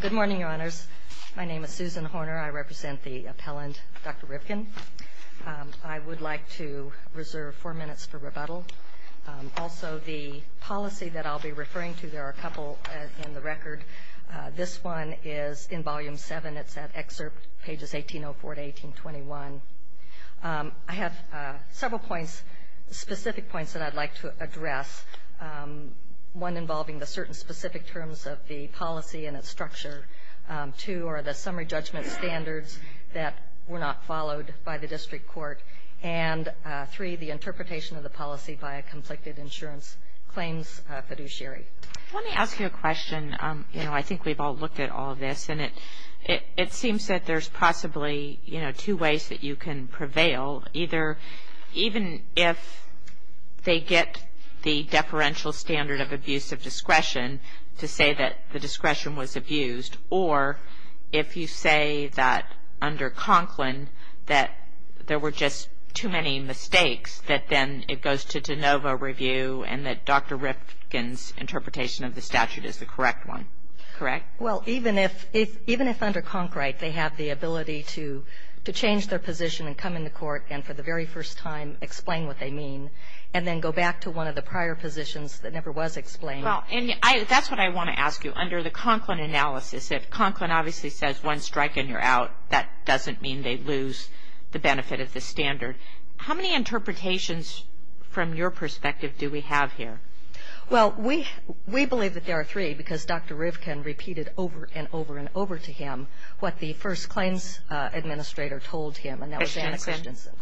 Good morning, Your Honors. My name is Susan Horner. I represent the appellant, Dr. Rivkin. I would like to reserve four minutes for rebuttal. Also, the policy that I'll be referring to, there are a couple in the record. This one is in Volume 7. It's at Excerpt, pages 1804 to 1821. I have several points, specific points that I'd like to address. One involving the certain specific terms of the policy and its structure. Two are the summary judgment standards that were not followed by the district court. And three, the interpretation of the policy by a conflicted insurance claims fiduciary. I want to ask you a question. I think we've all looked at all of this, and it seems that there's possibly two ways that you can prevail. Either even if they get the deferential standard of abuse of discretion to say that the discretion was abused, or if you say that under Conklin, that there were just too many mistakes, that then it goes to de novo review, and that Dr. Rivkin's interpretation of the statute is the correct one. Correct? Well, even if under Conkright, they have the ability to change their position and come into court and for the very first time explain what they mean, and then go back to one of the prior positions that never was explained. Well, and that's what I want to ask you. Under the Conklin analysis, if Conklin obviously says one strike and you're out, that doesn't mean they lose the benefit of the standard. How many interpretations from your perspective do we have here? Well, we believe that there are three, because Dr. Rivkin repeated over and over and over to him what the first claims administrator told him, and that was Anna Christensen.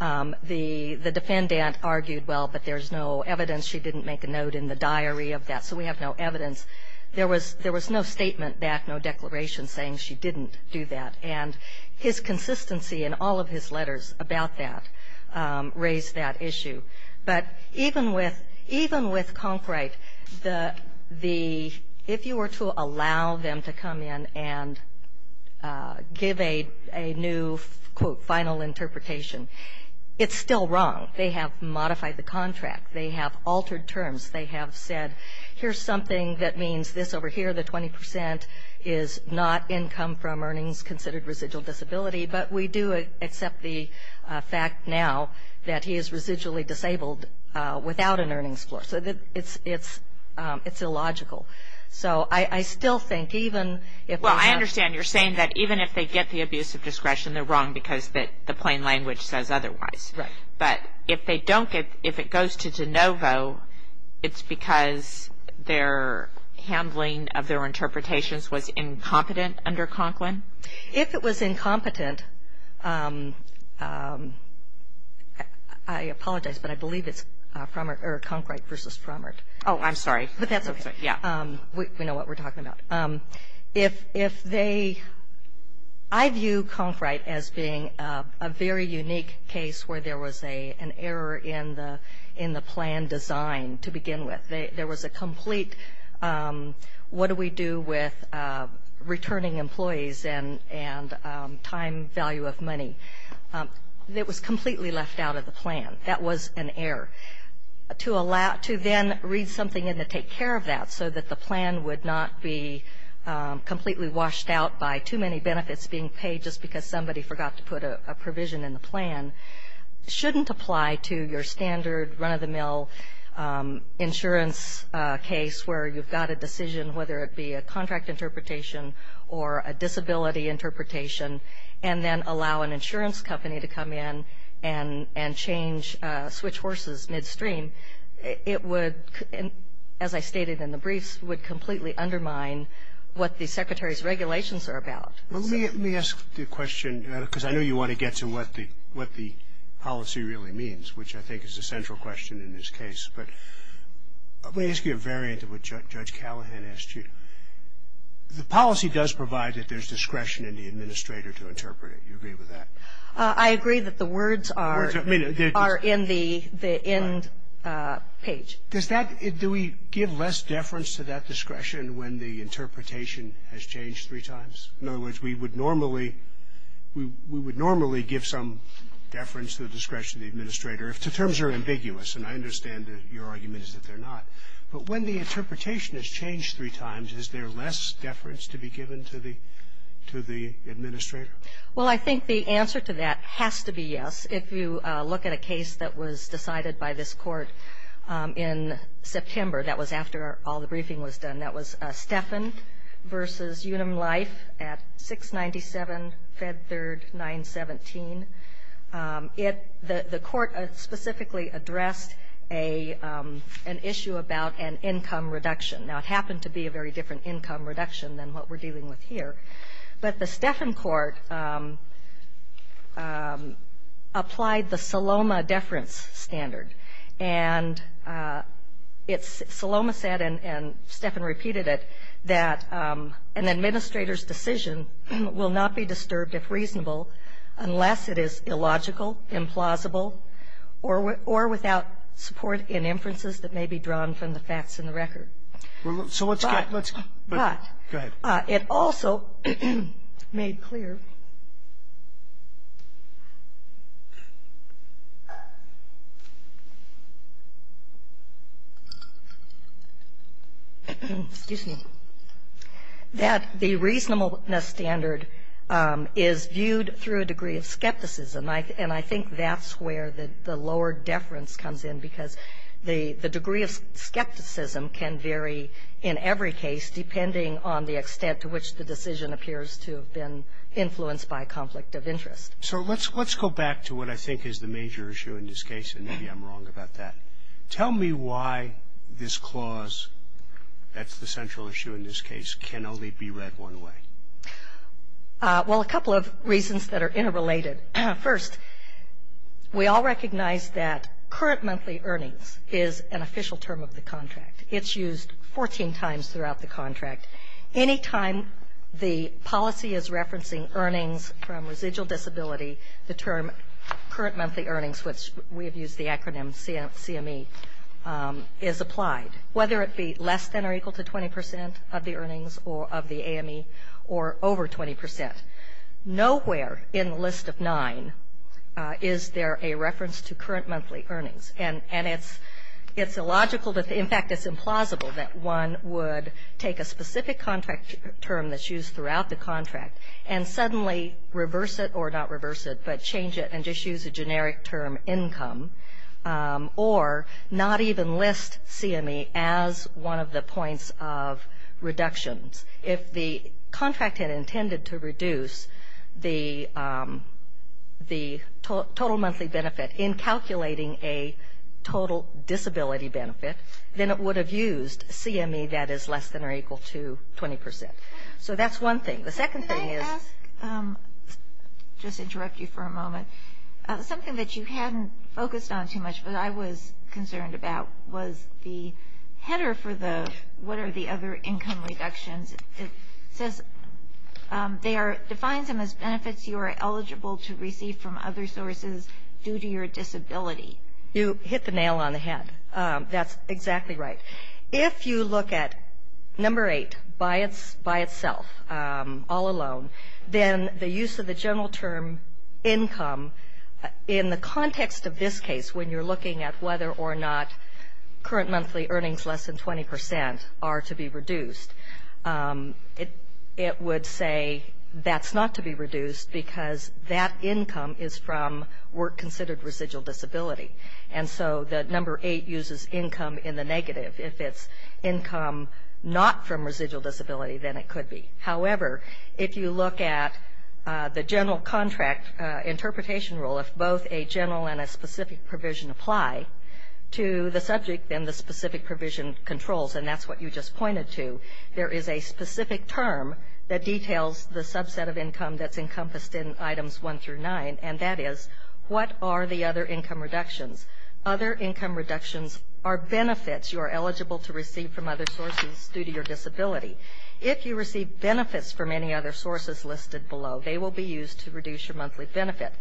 The defendant argued, well, but there's no evidence she didn't make a note in the diary of that, so we have no evidence. There was no statement back, no declaration saying she didn't do that. And his consistency in all of his letters about that raised that issue. But even with Conkright, if you were to allow them to come in and give a new, quote, final interpretation, it's still wrong. They have modified the contract. They have altered terms. They have said, here's something that means this over here, the 20 percent is not income from earnings considered residual disability, but we do accept the fact now that he is residually disabled without an earnings floor. So it's illogical. So I still think even if there's not – Well, I understand you're saying that even if they get the abuse of discretion, they're wrong because the plain language says otherwise. Right. But if they don't get – if it goes to de novo, it's because their handling of their interpretations was incompetent under Conklin? If it was incompetent, I apologize, but I believe it's Conkright versus Frommert. Oh, I'm sorry. But that's okay. Yeah. We know what we're talking about. If they – I view Conkright as being a very unique case where there was an error in the plan design to begin with. There was a complete what do we do with returning employees and time value of money. It was completely left out of the plan. That was an error. To then read something in to take care of that so that the plan would not be completely washed out by too many benefits being paid just because somebody forgot to put a provision in the plan shouldn't apply to your standard run-of-the-mill insurance case where you've got a decision whether it be a contract interpretation or a disability interpretation and then allow an insurance company to come in and change – switch horses midstream. It would, as I stated in the briefs, would completely undermine what the Secretary's regulations are about. Let me ask the question because I know you want to get to what the policy really means, which I think is a central question in this case. But let me ask you a variant of what Judge Callahan asked you. The policy does provide that there's discretion in the administrator to interpret it. Do you agree with that? I agree that the words are in the end page. Does that – do we give less deference to that discretion when the interpretation has changed three times? In other words, we would normally – we would normally give some deference to the discretion of the administrator if the terms are ambiguous, and I understand that your argument is that they're not. But when the interpretation has changed three times, is there less deference to be given to the administrator? Well, I think the answer to that has to be yes. If you look at a case that was decided by this Court in September, that was after all the briefing was done, that was Steffen v. Unum Life at 697 Fed 3rd 917. The Court specifically addressed an issue about an income reduction. Now, it happened to be a very different income reduction than what we're dealing with here. But the Steffen Court applied the Saloma deference standard, and it's – Saloma said, and Steffen repeated it, that an administrator's decision will not be disturbed if reasonable unless it is illogical, implausible, or without support in inferences that may be drawn from the facts in the record. So let's get – let's go ahead. It also made clear – excuse me – that the reasonableness standard is viewed through a degree of skepticism. And I think that's where the lower deference comes in, because the degree of skepticism can vary in every case depending on the extent to which the decision appears to have been influenced by a conflict of interest. So let's go back to what I think is the major issue in this case, and maybe I'm wrong about that. Tell me why this clause – that's the central issue in this case – can only be read one way. Well, a couple of reasons that are interrelated. First, we all recognize that current monthly earnings is an official term of the contract. It's used 14 times throughout the contract. Any time the policy is referencing earnings from residual disability, the term current monthly earnings, which we have used the acronym CME, is applied, whether it be less than or equal to 20 percent of the earnings of the AME or over 20 percent. Nowhere in the list of nine is there a reference to current monthly earnings. And it's illogical – in fact, it's implausible that one would take a specific contract term that's used throughout the contract and suddenly reverse it – or not reverse it, but change it and just use a generic term, income, or not even list CME as one of the points of reductions. If the contract had intended to reduce the total monthly benefit in calculating a total disability benefit, then it would have used CME that is less than or equal to 20 percent. So that's one thing. The second thing is – Can I ask – just to interrupt you for a moment – something that you hadn't focused on too much, but I was concerned about was the header for the what are the other income reductions. It says they are – defines them as benefits you are eligible to receive from other sources due to your disability. You hit the nail on the head. That's exactly right. If you look at number eight by itself, all alone, then the use of the general term income in the context of this case when you're looking at whether or not current monthly earnings less than 20 percent are to be reduced, it would say that's not to be reduced because that income is from work considered residual disability. And so the number eight uses income in the negative. If it's income not from residual disability, then it could be. However, if you look at the general contract interpretation rule, if both a general and a specific provision apply to the subject, then the specific provision controls, and that's what you just pointed to. There is a specific term that details the subset of income that's encompassed in items one through nine, and that is what are the other income reductions. Other income reductions are benefits you are eligible to receive from other sources due to your disability. If you receive benefits from any other sources listed below, they will be used to reduce your monthly benefit.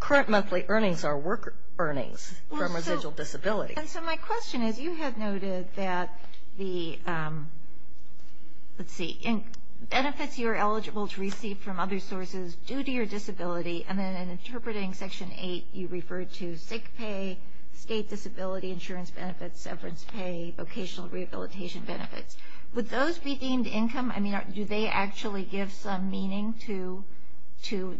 Current monthly earnings are work earnings from residual disability. And so my question is, you had noted that the, let's see, benefits you are eligible to receive from other sources due to your disability, and then in interpreting section eight you referred to sick pay, state disability insurance benefits, severance pay, vocational rehabilitation benefits. Would those be deemed income? I mean, do they actually give some meaning to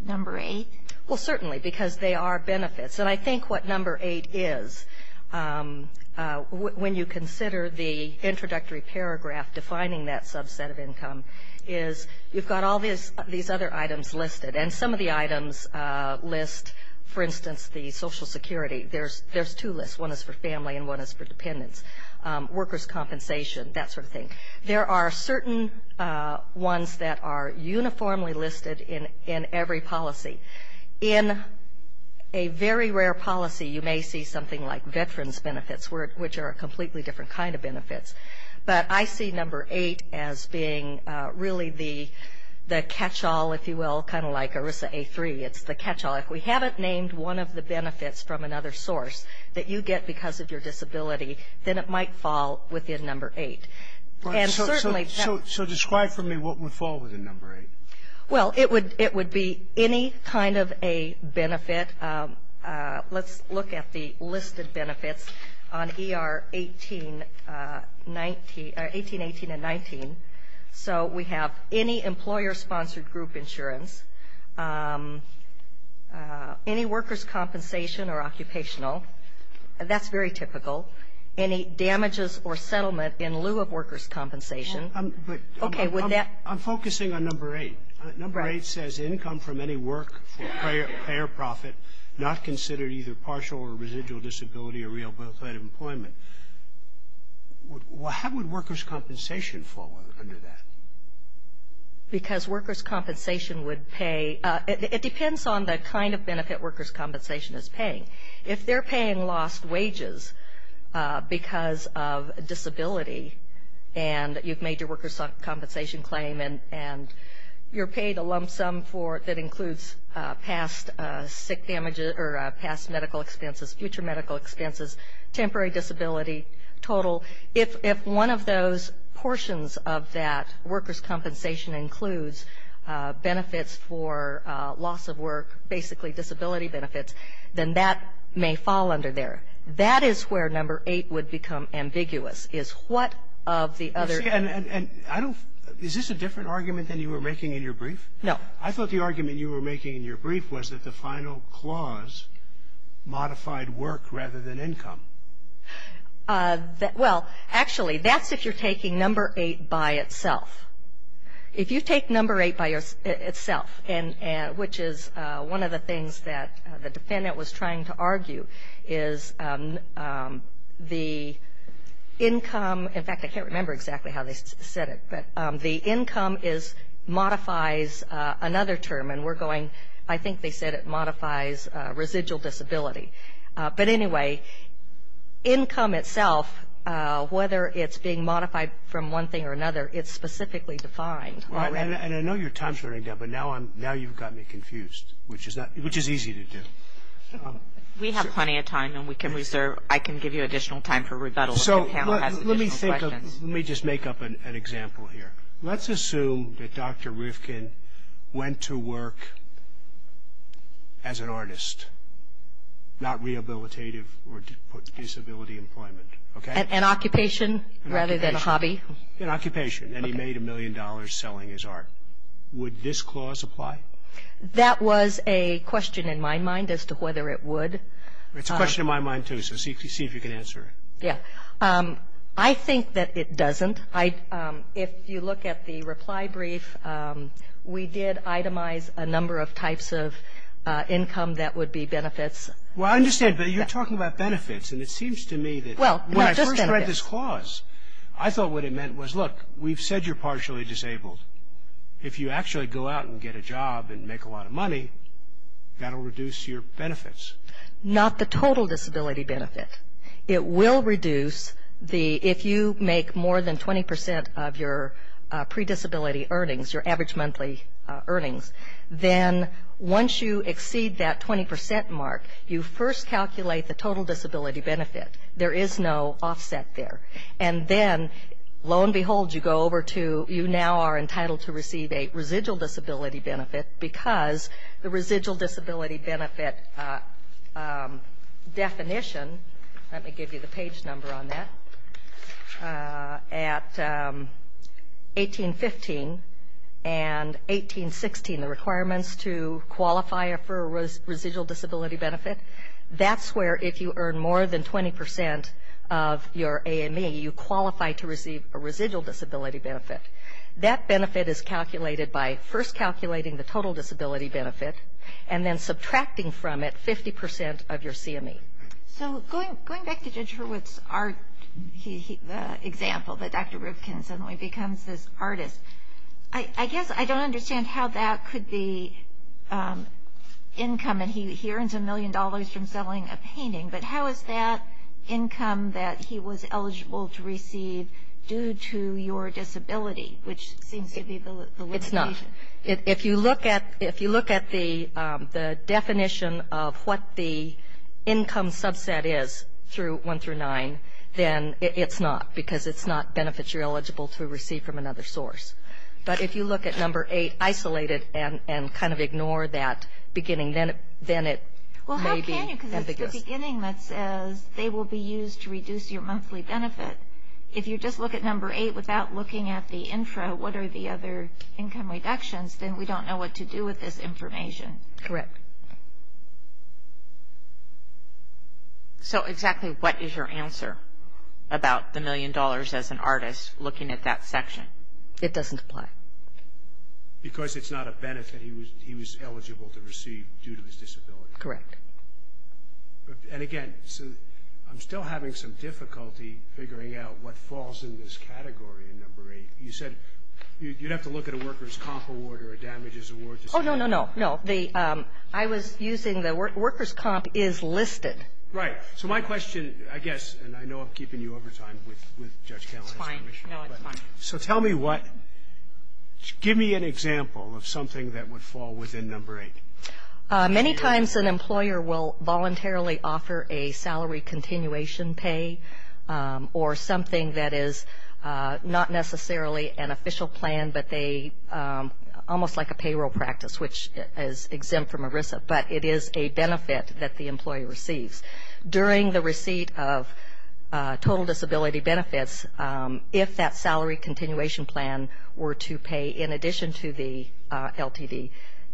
number eight? Well, certainly, because they are benefits. And I think what number eight is, when you consider the introductory paragraph defining that subset of income, is you've got all these other items listed. And some of the items list, for instance, the Social Security, there's two lists. One is for family and one is for dependents. Workers' compensation, that sort of thing. There are certain ones that are uniformly listed in every policy. In a very rare policy, you may see something like veterans' benefits, which are a completely different kind of benefits. But I see number eight as being really the catchall, if you will, kind of like ERISA A3. It's the catchall. If we haven't named one of the benefits from another source that you get because of your disability, then it might fall within number eight. And certainly that --. So describe for me what would fall within number eight. Well, it would be any kind of a benefit. Let's look at the listed benefits on ER 18, 18 and 19. So we have any employer-sponsored group insurance, any workers' compensation or occupational. That's very typical. Any damages or settlement in lieu of workers' compensation. Okay. I'm focusing on number eight. Number eight says income from any work for pay or profit, not considered either partial or residual disability or real birthright employment. How would workers' compensation fall under that? Because workers' compensation would pay. It depends on the kind of benefit workers' compensation is paying. If they're paying lost wages because of disability and you've made your workers' compensation claim and you're paid a lump sum that includes past medical expenses, future medical expenses, temporary disability, total, if one of those portions of that workers' compensation includes benefits for loss of work, basically disability benefits, then that may fall under there. That is where number eight would become ambiguous is what of the other. And I don't --. Is this a different argument than you were making in your brief? No. I thought the argument you were making in your brief was that the final clause modified work rather than income. Well, actually, that's if you're taking number eight by itself. If you take number eight by itself, which is one of the things that the defendant was trying to argue, is the income, in fact, I can't remember exactly how they said it, but the income modifies another term, and we're going, I think they said it modifies residual disability. But anyway, income itself, whether it's being modified from one thing or another, it's specifically defined. And I know your time's running down, but now you've got me confused, which is easy to do. We have plenty of time, and we can reserve. I can give you additional time for rebuttal if the panel has additional questions. Let me just make up an example here. Let's assume that Dr. Rifkin went to work as an artist, not rehabilitative or disability employment. An occupation rather than a hobby. An occupation, and he made a million dollars selling his art. Would this clause apply? That was a question in my mind as to whether it would. It's a question in my mind, too, so see if you can answer it. Yeah. I think that it doesn't. If you look at the reply brief, we did itemize a number of types of income that would be benefits. Well, I understand, but you're talking about benefits, and it seems to me that when I first read this clause, I thought what it meant was, look, we've said you're partially disabled. If you actually go out and get a job and make a lot of money, that'll reduce your benefits. Not the total disability benefit. It will reduce the, if you make more than 20% of your predisability earnings, your average monthly earnings, then once you exceed that 20% mark, you first calculate the total disability benefit. There is no offset there. And then, lo and behold, you go over to, you now are entitled to receive a residual disability benefit because the residual disability benefit definition, let me give you the page number on that, at 1815 and 1816, the requirements to qualify for a residual disability benefit, that's where if you earn more than 20% of your AME, you qualify to receive a residual disability benefit. That benefit is calculated by first calculating the total disability benefit and then subtracting from it 50% of your CME. So going back to Judge Hurwitz's example that Dr. Rivkin suddenly becomes this artist, I guess I don't understand how that could be income, and he earns a million dollars from selling a painting, but how is that income that he was eligible to receive due to your disability, which seems to be the limitation? It's not. If you look at the definition of what the income subset is through one through nine, then it's not because it's not benefits you're eligible to receive from another source. But if you look at number eight isolated and kind of ignore that beginning, then it may be ambiguous. Well, how can you? Because it's the beginning that says they will be used to reduce your monthly benefit. If you just look at number eight without looking at the intro, what are the other income reductions, then we don't know what to do with this information. Correct. So exactly what is your answer about the million dollars as an artist looking at that section? It doesn't apply. Because it's not a benefit he was eligible to receive due to his disability. Correct. And, again, I'm still having some difficulty figuring out what falls in this category in number eight. You said you'd have to look at a workers' comp award or a damages award. Oh, no, no, no. No, I was using the workers' comp is listed. Right. So my question, I guess, and I know I'm keeping you over time with Judge Kelley. It's fine. No, it's fine. So tell me what, give me an example of something that would fall within number eight. Many times an employer will voluntarily offer a salary continuation pay or something that is not necessarily an official plan, but they, almost like a payroll practice, which is exempt from ERISA, but it is a benefit that the employee receives. During the receipt of total disability benefits, if that salary continuation plan were to pay in addition to the LTV,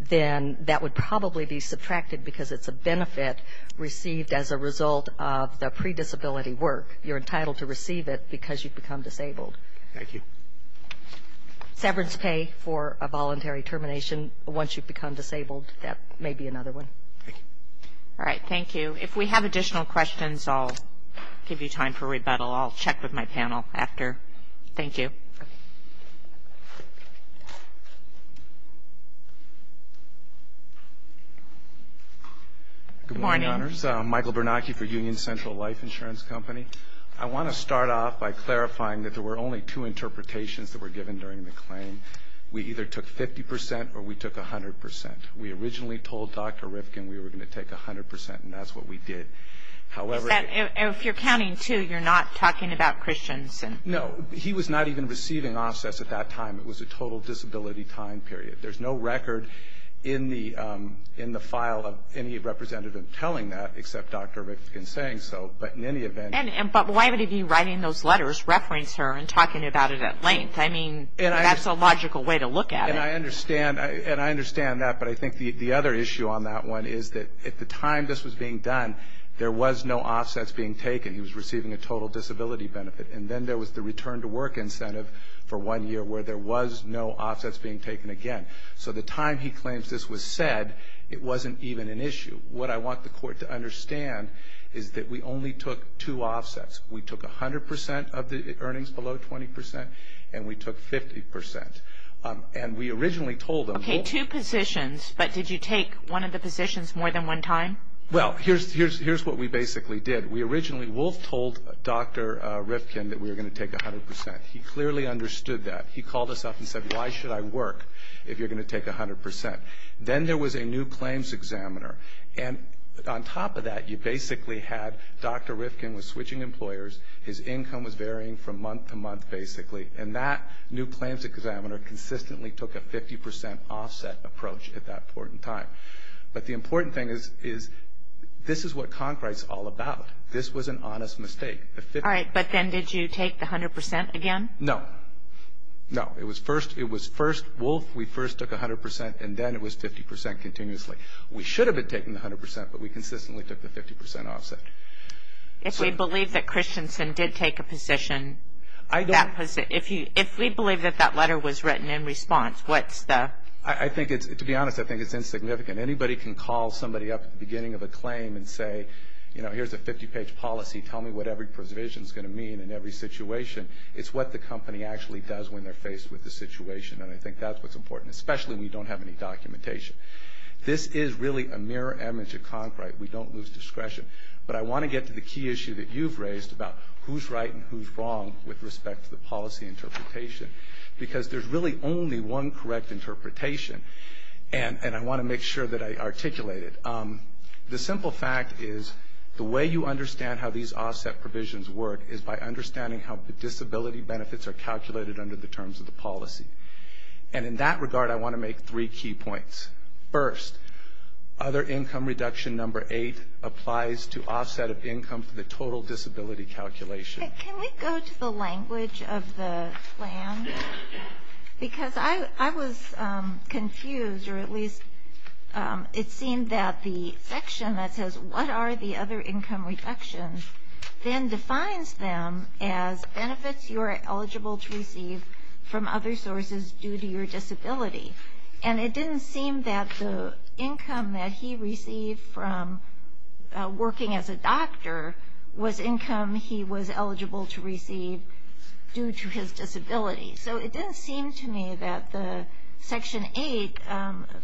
then that would probably be subtracted because it's a benefit received as a result of the pre-disability work. You're entitled to receive it because you've become disabled. Thank you. Severance pay for a voluntary termination once you've become disabled, that may be another one. Thank you. All right, thank you. If we have additional questions, I'll give you time for rebuttal. I'll check with my panel after. Thank you. Good morning, Your Honors. Michael Bernacchi for Union Central Life Insurance Company. I want to start off by clarifying that there were only two interpretations that were given during the claim. We either took 50 percent or we took 100 percent. We originally told Dr. Rifkin we were going to take 100 percent, and that's what we did. If you're counting two, you're not talking about Christians? No. He was not even receiving offsets at that time. It was a total disability time period. There's no record in the file of any representative telling that except Dr. Rifkin saying so, but in any event. But why would he be writing those letters, reference her, and talking about it at length? I mean, that's a logical way to look at it. And I understand that, but I think the other issue on that one is that at the time this was being done, there was no offsets being taken. He was receiving a total disability benefit. And then there was the return to work incentive for one year where there was no offsets being taken again. So the time he claims this was said, it wasn't even an issue. What I want the court to understand is that we only took two offsets. We took 100 percent of the earnings below 20 percent, and we took 50 percent. And we originally told them. Okay, two positions, but did you take one of the positions more than one time? Well, here's what we basically did. We originally both told Dr. Rifkin that we were going to take 100 percent. He clearly understood that. He called us up and said, why should I work if you're going to take 100 percent? Then there was a new claims examiner. And on top of that, you basically had Dr. Rifkin was switching employers. His income was varying from month to month, basically. And that new claims examiner consistently took a 50 percent offset approach at that point in time. But the important thing is this is what Concrete is all about. This was an honest mistake. All right, but then did you take the 100 percent again? No. No, it was first Wolfe, we first took 100 percent, and then it was 50 percent continuously. We should have been taking the 100 percent, but we consistently took the 50 percent offset. If we believe that Christensen did take a position, if we believe that that letter was written in response, what's the? I think it's, to be honest, I think it's insignificant. Anybody can call somebody up at the beginning of a claim and say, you know, here's a 50-page policy. Tell me what every provision is going to mean in every situation. It's what the company actually does when they're faced with the situation, and I think that's what's important, especially when you don't have any documentation. This is really a mirror image of Concrete. We don't lose discretion. But I want to get to the key issue that you've raised about who's right and who's wrong with respect to the policy interpretation, because there's really only one correct interpretation, and I want to make sure that I articulate it. The simple fact is the way you understand how these offset provisions work is by understanding how the disability benefits are calculated under the terms of the policy. And in that regard, I want to make three key points. First, other income reduction number eight applies to offset of income for the total disability calculation. Can we go to the language of the plan? Because I was confused, or at least it seemed that the section that says, what are the other income reductions, then defines them as benefits you are eligible to receive from other sources due to your disability. And it didn't seem that the income that he received from working as a doctor was income he was eligible to receive due to his disability. So it didn't seem to me that the section eight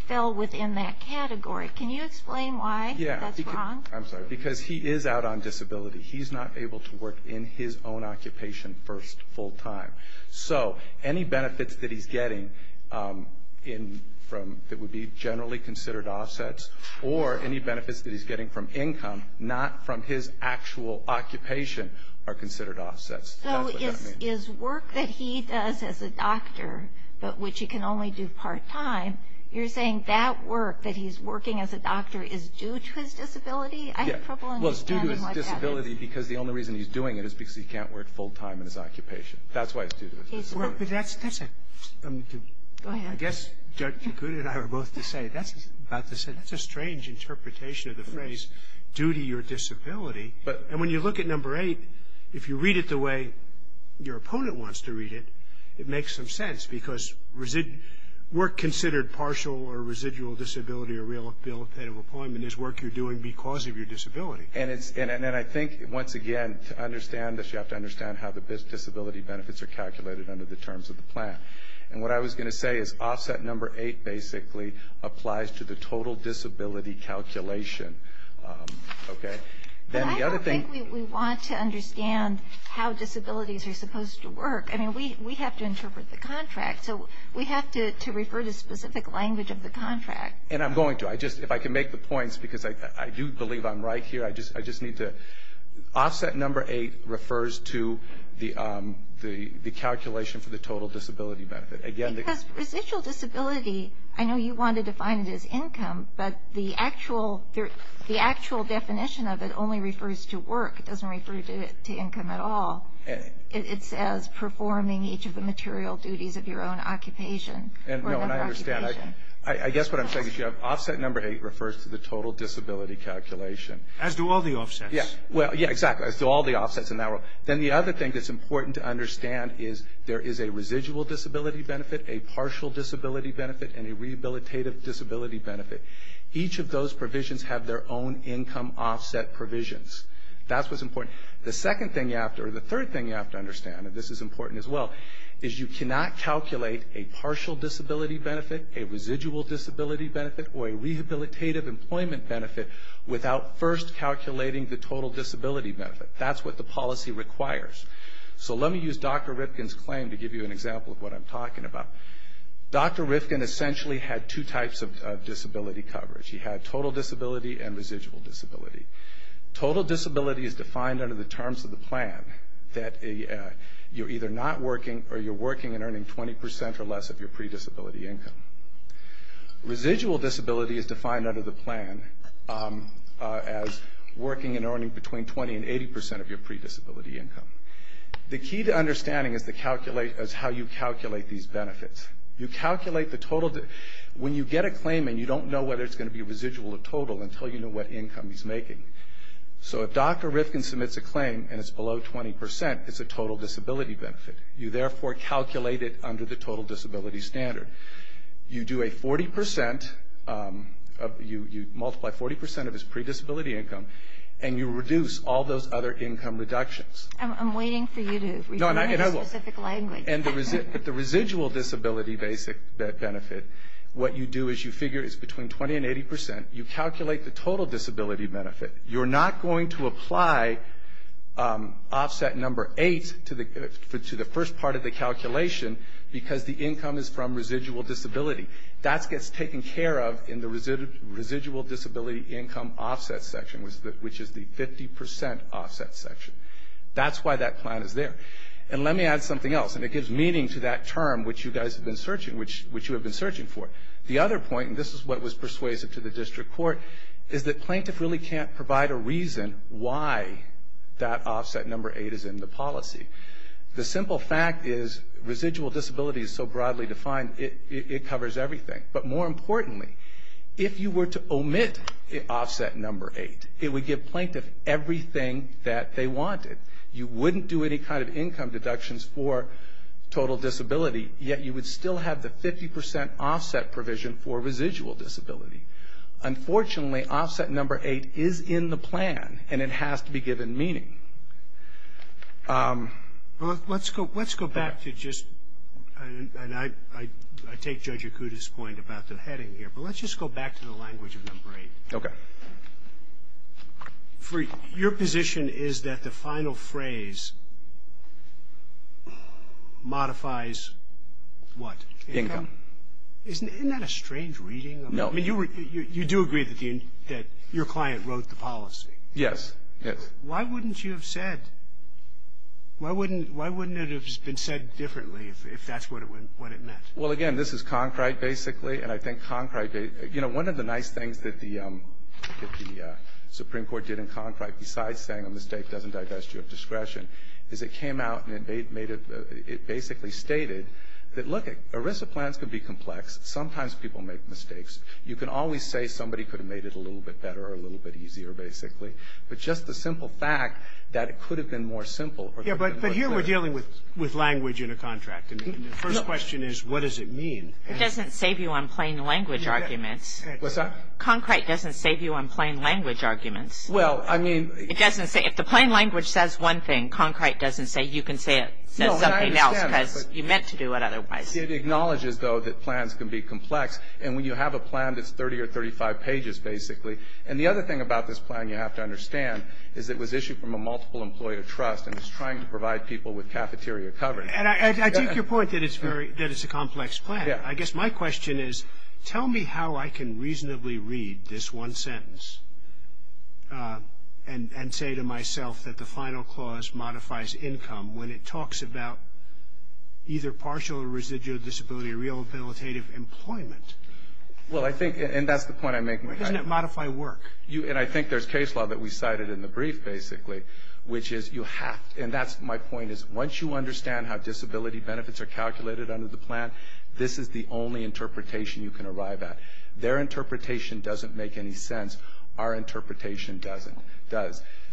fell within that category. Can you explain why that's wrong? Yeah, I'm sorry, because he is out on disability. He's not able to work in his own occupation first full time. So any benefits that he's getting that would be generally considered offsets, or any benefits that he's getting from income, not from his actual occupation, are considered offsets. So his work that he does as a doctor, but which he can only do part time, you're saying that work that he's working as a doctor is due to his disability? Yeah, well it's due to his disability because the only reason he's doing it is because he can't work full time in his occupation. That's why it's due to his disability. I guess Dr. Good and I are both to say, that's a strange interpretation of the phrase due to your disability. And when you look at number eight, if you read it the way your opponent wants to read it, it makes some sense because work considered partial or residual disability or rehabilitative employment is work you're doing because of your disability. And I think once again to understand this you have to understand how the disability benefits are calculated under the terms of the plan. And what I was going to say is offset number eight basically applies to the total disability calculation. But I don't think we want to understand how disabilities are supposed to work. I mean we have to interpret the contract. So we have to refer to specific language of the contract. And I'm going to. If I can make the points because I do believe I'm right here. I just need to. Offset number eight refers to the calculation for the total disability benefit. Because residual disability, I know you wanted to define it as income, but the actual definition of it only refers to work. It doesn't refer to income at all. It says performing each of the material duties of your own occupation. No, and I understand. I guess what I'm saying is you have offset number eight refers to the total disability calculation. As do all the offsets. Well, yeah, exactly. As do all the offsets. Then the other thing that's important to understand is there is a residual disability benefit, a partial disability benefit, and a rehabilitative disability benefit. Each of those provisions have their own income offset provisions. That's what's important. The second thing you have to, or the third thing you have to understand, and this is important as well, is you cannot calculate a partial disability benefit, a residual disability benefit, or a rehabilitative employment benefit without first calculating the total disability benefit. That's what the policy requires. So let me use Dr. Rifkin's claim to give you an example of what I'm talking about. Dr. Rifkin essentially had two types of disability coverage. He had total disability and residual disability. Total disability is defined under the terms of the plan that you're either not working or you're working and earning 20% or less of your predisability income. Residual disability is defined under the plan as working and earning between 20% and 80% of your predisability income. The key to understanding is how you calculate these benefits. You calculate the total. When you get a claim and you don't know whether it's going to be residual or total until you know what income he's making. So if Dr. Rifkin submits a claim and it's below 20%, it's a total disability benefit. You therefore calculate it under the total disability standard. You do a 40% of, you multiply 40% of his predisability income, and you reduce all those other income reductions. I'm waiting for you to read my specific language. But the residual disability basic benefit, what you do is you figure it's between 20% and 80%. You calculate the total disability benefit. You're not going to apply offset number eight to the first part of the calculation because the income is from residual disability. That gets taken care of in the residual disability income offset section, which is the 50% offset section. That's why that plan is there. And let me add something else, and it gives meaning to that term, which you guys have been searching for. The other point, and this is what was persuasive to the district court, is that plaintiff really can't provide a reason why that offset number eight is in the policy. The simple fact is residual disability is so broadly defined it covers everything. But more importantly, if you were to omit offset number eight, it would give plaintiff everything that they wanted. You wouldn't do any kind of income deductions for total disability, yet you would still have the 50% offset provision for residual disability. Unfortunately, offset number eight is in the plan, and it has to be given meaning. Well, let's go back to just, and I take Judge Okuda's point about the heading here, but let's just go back to the language of number eight. Okay. Your position is that the final phrase modifies what? Income. Isn't that a strange reading? No. I mean, you do agree that your client wrote the policy. Yes, yes. Why wouldn't you have said, why wouldn't it have been said differently if that's what it meant? Well, again, this is concrete, basically. And I think concrete, you know, one of the nice things that the Supreme Court did in concrete, besides saying a mistake doesn't divest you of discretion, is it came out and it basically stated that, look, ERISA plans can be complex. Sometimes people make mistakes. You can always say somebody could have made it a little bit better or a little bit easier, basically. But just the simple fact that it could have been more simple. Yeah, but here we're dealing with language in a contract. And the first question is, what does it mean? It doesn't save you on plain language arguments. What's that? Concrete doesn't save you on plain language arguments. Well, I mean. It doesn't say. If the plain language says one thing, concrete doesn't say you can say it says something else because you meant to do it otherwise. It acknowledges, though, that plans can be complex. And when you have a plan that's 30 or 35 pages, basically. And the other thing about this plan, you have to understand, is it was issued from a multiple employer trust, and it's trying to provide people with cafeteria coverage. And I take your point that it's a complex plan. I guess my question is, tell me how I can reasonably read this one sentence and say to myself that the final clause modifies income when it talks about either partial or residual disability or rehabilitative employment. Well, I think. And that's the point I'm making. Doesn't it modify work? And I think there's case law that we cited in the brief, basically, which is you have. And that's my point, is once you understand how disability benefits are calculated under the plan, this is the only interpretation you can arrive at. Their interpretation doesn't make any sense. Our interpretation does.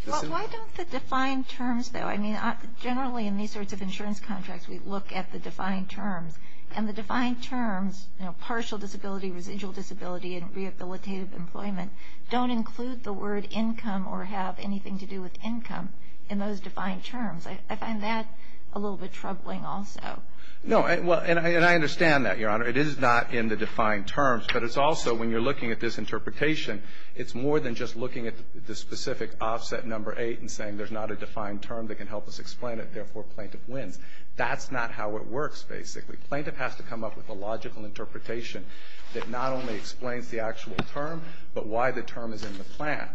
Why don't the defined terms, though. I mean, generally in these sorts of insurance contracts, we look at the defined terms. And the defined terms, you know, partial disability, residual disability, and rehabilitative employment don't include the word income or have anything to do with income in those defined terms. I find that a little bit troubling also. No. And I understand that, Your Honor. It is not in the defined terms. But it's also when you're looking at this interpretation, it's more than just looking at the specific offset number eight and saying there's not a defined term that can help us explain it. Therefore, plaintiff wins. That's not how it works, basically. Plaintiff has to come up with a logical interpretation that not only explains the actual term, but why the term is in the plan.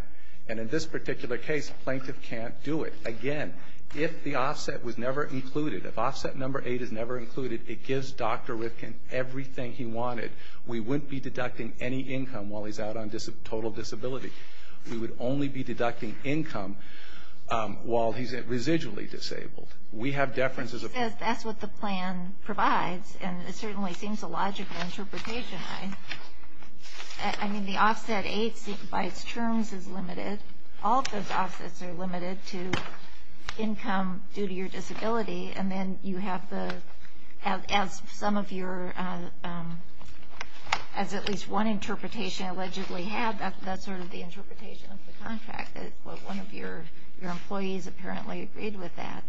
And in this particular case, plaintiff can't do it. Again, if the offset was never included, if offset number eight is never included, it gives Dr. Rifkin everything he wanted. We wouldn't be deducting any income while he's out on total disability. We would only be deducting income while he's residually disabled. We have deference as a person. That's what the plan provides. And it certainly seems a logical interpretation. I mean, the offset eight by its terms is limited. All of those offsets are limited to income due to your disability. And then you have the, as some of your, as at least one interpretation allegedly had, that's sort of the interpretation of the contract. One of your employees apparently agreed with that.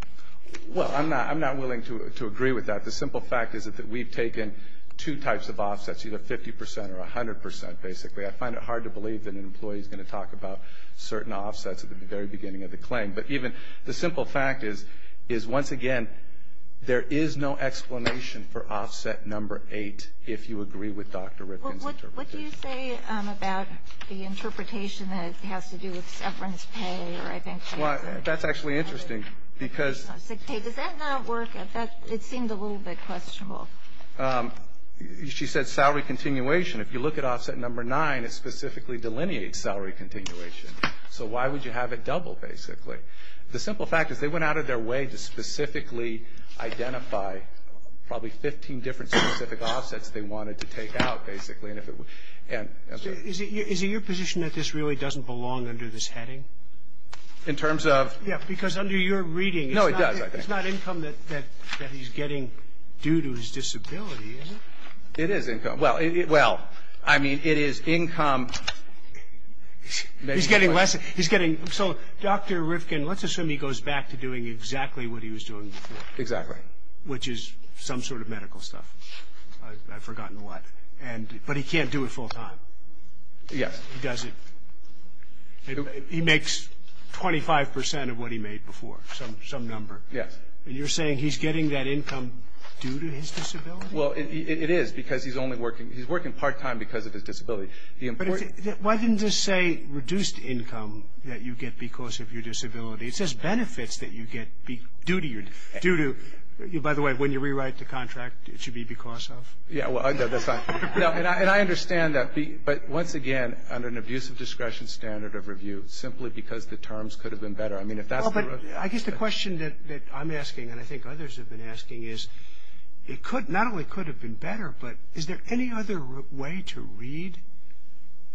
Well, I'm not willing to agree with that. The simple fact is that we've taken two types of offsets, either 50% or 100%, basically. I find it hard to believe that an employee is going to talk about certain offsets at the very beginning of the claim. But even the simple fact is, once again, there is no explanation for offset number eight if you agree with Dr. Rifkin's interpretation. Well, what do you say about the interpretation that has to do with severance pay? Well, that's actually interesting. Does that not work? It seemed a little bit questionable. She said salary continuation. If you look at offset number nine, it specifically delineates salary continuation. So why would you have it double, basically? The simple fact is they went out of their way to specifically identify probably 15 different specific offsets they wanted to take out, basically. Is it your position that this really doesn't belong under this heading? In terms of? Yeah, because under your reading, it's not income that he's getting due to his disability, is it? It is income. Well, I mean, it is income. He's getting less. So Dr. Rifkin, let's assume he goes back to doing exactly what he was doing before. Exactly. Which is some sort of medical stuff. I've forgotten what. But he can't do it full time. Yes. He doesn't. He makes 25 percent of what he made before, some number. Yes. And you're saying he's getting that income due to his disability? Well, it is, because he's only working. He's working part time because of his disability. Why didn't it say reduced income that you get because of your disability? It says benefits that you get due to your disability. By the way, when you rewrite the contract, it should be because of. Yeah, well, that's fine. And I understand that. But, once again, under an abuse of discretion standard of review, simply because the terms could have been better. I mean, if that's the. I guess the question that I'm asking and I think others have been asking is, not only could it have been better, but is there any other way to read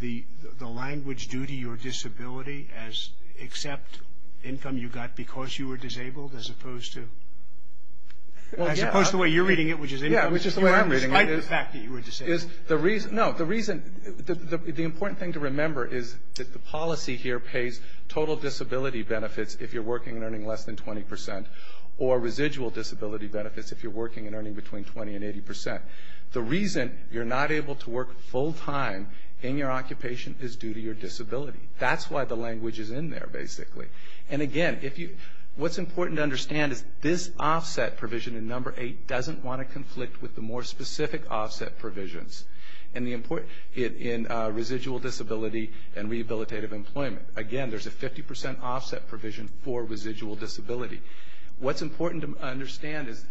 the language due to your disability except income you got because you were disabled as opposed to. As opposed to the way you're reading it, which is income. Despite the fact that you were disabled. No, the reason. The important thing to remember is that the policy here pays total disability benefits if you're working and earning less than 20%, or residual disability benefits if you're working and earning between 20% and 80%. The reason you're not able to work full time in your occupation is due to your disability. That's why the language is in there, basically. And, again, what's important to understand is this offset provision in number eight doesn't want to conflict with the more specific offset provisions in residual disability and rehabilitative employment. Again, there's a 50% offset provision for residual disability. What's important to understand is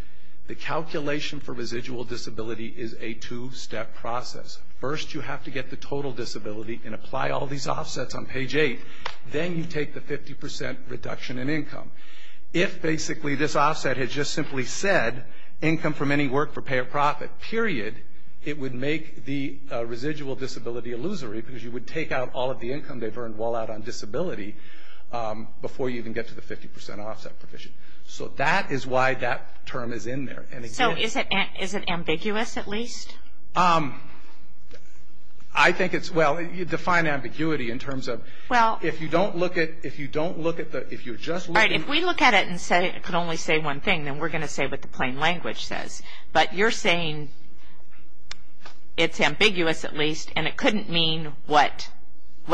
the calculation for residual disability is a two-step process. First, you have to get the total disability and apply all these offsets on page eight. Then you take the 50% reduction in income. If, basically, this offset had just simply said income from any work for pay or profit, period, it would make the residual disability illusory because you would take out all of the income they've earned while out on disability before you even get to the 50% offset provision. So that is why that term is in there. So is it ambiguous, at least? I think it's – well, you define ambiguity in terms of if you don't look at the – All right, if we look at it and say it can only say one thing, then we're going to say what the plain language says. But you're saying it's ambiguous, at least, and it couldn't mean what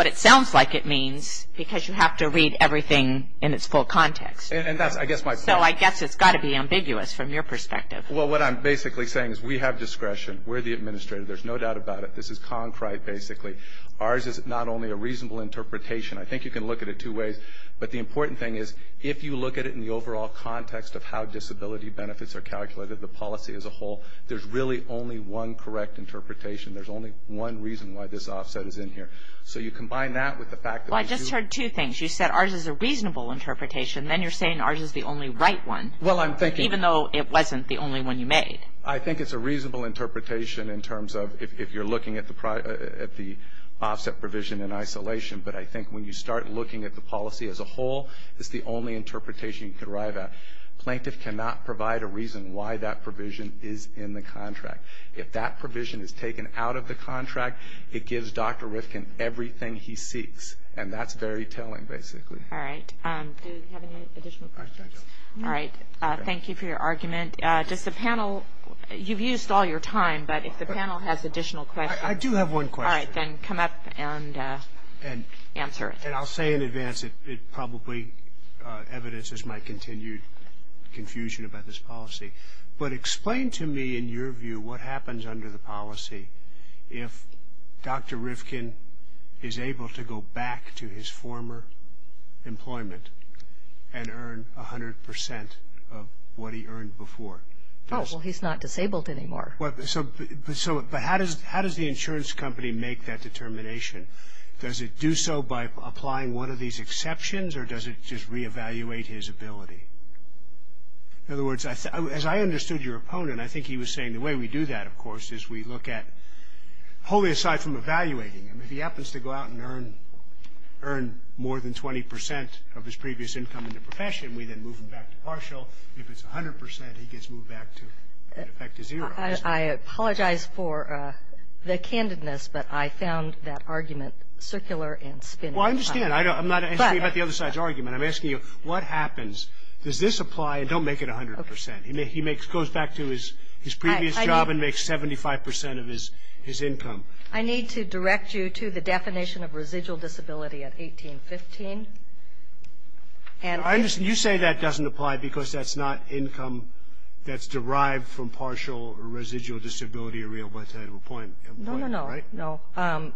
it sounds like it means because you have to read everything in its full context. And that's, I guess, my point. So I guess it's got to be ambiguous from your perspective. Well, what I'm basically saying is we have discretion. We're the administrator. There's no doubt about it. This is concrete, basically. Ours is not only a reasonable interpretation. I think you can look at it two ways. But the important thing is if you look at it in the overall context of how disability benefits are calculated, the policy as a whole, there's really only one correct interpretation. There's only one reason why this offset is in here. So you combine that with the fact that – Well, I just heard two things. You said ours is a reasonable interpretation. Then you're saying ours is the only right one. Well, I'm thinking – Even though it wasn't the only one you made. I think it's a reasonable interpretation in terms of if you're looking at the offset provision in isolation. But I think when you start looking at the policy as a whole, it's the only interpretation you can arrive at. Plaintiff cannot provide a reason why that provision is in the contract. If that provision is taken out of the contract, it gives Dr. Rifkin everything he seeks. And that's very telling, basically. All right. Do we have any additional questions? All right. Thank you for your argument. Does the panel – you've used all your time. But if the panel has additional questions – I do have one question. All right. You can come up and answer it. And I'll say in advance, it probably evidences my continued confusion about this policy. But explain to me, in your view, what happens under the policy if Dr. Rifkin is able to go back to his former employment and earn 100 percent of what he earned before? Oh, well, he's not disabled anymore. But how does the insurance company make that determination? Does it do so by applying one of these exceptions, or does it just reevaluate his ability? In other words, as I understood your opponent, I think he was saying the way we do that, of course, is we look at – wholly aside from evaluating him, if he happens to go out and earn more than 20 percent of his previous income in the profession, we then move him back to partial. If it's 100 percent, he gets moved back to – in effect, to zero. I apologize for the candidness, but I found that argument circular and spinny. Well, I understand. I'm not asking you about the other side's argument. I'm asking you, what happens? Does this apply? And don't make it 100 percent. He goes back to his previous job and makes 75 percent of his income. I need to direct you to the definition of residual disability at 1815. And I understand. You say that doesn't apply because that's not income that's derived from partial or residual disability or rehabilitative employment, right? No, no, no.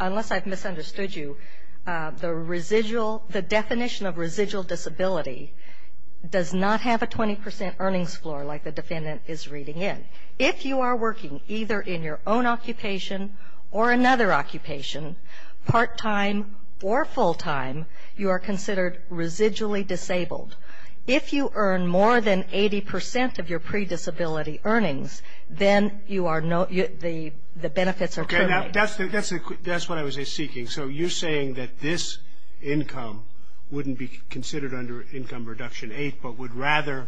Unless I've misunderstood you, the residual – the definition of residual disability does not have a 20 percent earnings floor like the defendant is reading in. If you are working either in your own occupation or another occupation, part-time or full-time, you are considered residually disabled. If you earn more than 80 percent of your pre-disability earnings, then you are – the benefits are terminated. Okay. That's what I was seeking. So you're saying that this income wouldn't be considered under income reduction 8, but would rather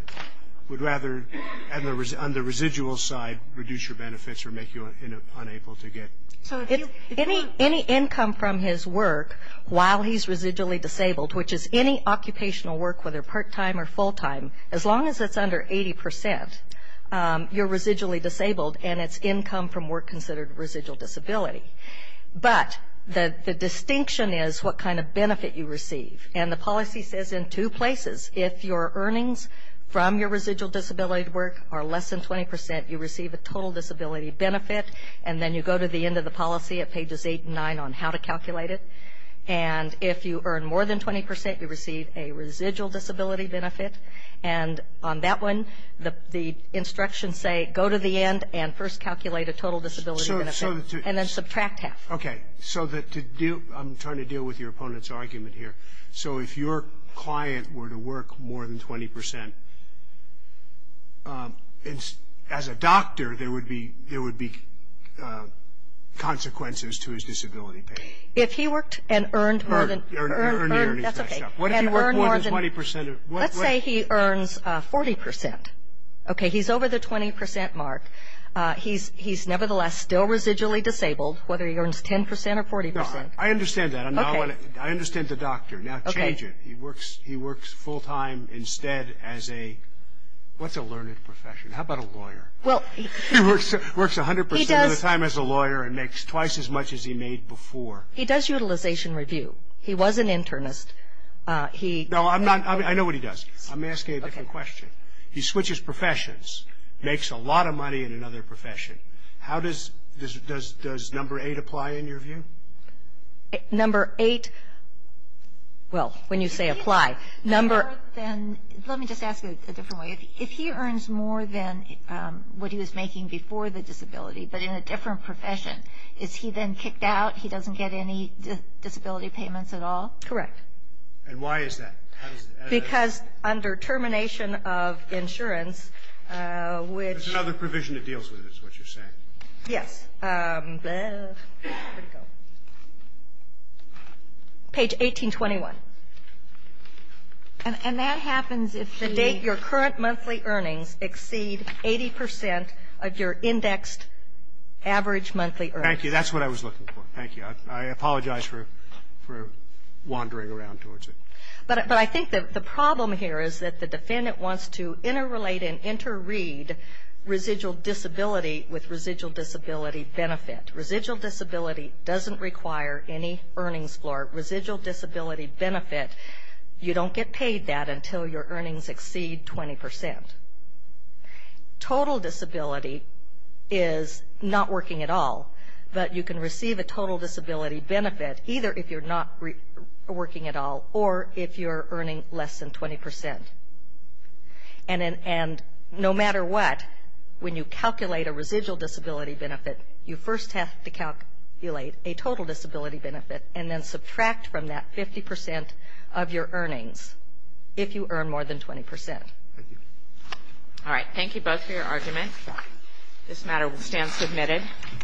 on the residual side reduce your benefits or make you unable to get – Any income from his work while he's residually disabled, which is any occupational work, whether part-time or full-time, as long as it's under 80 percent, you're residually disabled and it's income from work considered residual disability. But the distinction is what kind of benefit you receive. And the policy says in two places, if your earnings from your residual disability work are less than 20 percent, you receive a total disability benefit, and then you go to the end of the policy at pages 8 and 9 on how to calculate it. And if you earn more than 20 percent, you receive a residual disability benefit. And on that one, the instructions say go to the end and first calculate a total disability benefit and then subtract half. Okay. So that to do – I'm trying to deal with your opponent's argument here. So if your client were to work more than 20 percent, as a doctor there would be consequences to his disability pay. If he worked and earned more than – Earnings. That's okay. What if he worked more than 20 percent? Let's say he earns 40 percent. Okay, he's over the 20 percent mark. He's nevertheless still residually disabled, whether he earns 10 percent or 40 percent. No, I understand that. Okay. I understand the doctor. Now change it. He works full-time instead as a – what's a learned profession? How about a lawyer? He works 100 percent of the time as a lawyer and makes twice as much as he made before. He does utilization review. He was an internist. No, I know what he does. I'm asking a different question. He switches professions, makes a lot of money in another profession. How does number 8 apply in your view? Number 8, well, when you say apply, number – Let me just ask it a different way. If he earns more than what he was making before the disability, but in a different profession, is he then kicked out? He doesn't get any disability payments at all? Correct. And why is that? Because under termination of insurance, which – It's another provision that deals with it is what you're saying. Yes. Where did it go? Page 1821. And that happens if the date – Your current monthly earnings exceed 80 percent of your indexed average monthly earnings. Thank you. That's what I was looking for. Thank you. I apologize for wandering around towards it. But I think that the problem here is that the defendant wants to interrelate and interread residual disability with residual disability benefit. Residual disability doesn't require any earnings floor. Residual disability benefit, you don't get paid that until your earnings exceed 20 percent. Total disability is not working at all, but you can receive a total disability benefit either if you're not working at all or if you're earning less than 20 percent. And no matter what, when you calculate a residual disability benefit, you first have to calculate a total disability benefit and then subtract from that 50 percent of your earnings if you earn more than 20 percent. Thank you. All right. Thank you both for your argument. This matter will stand submitted.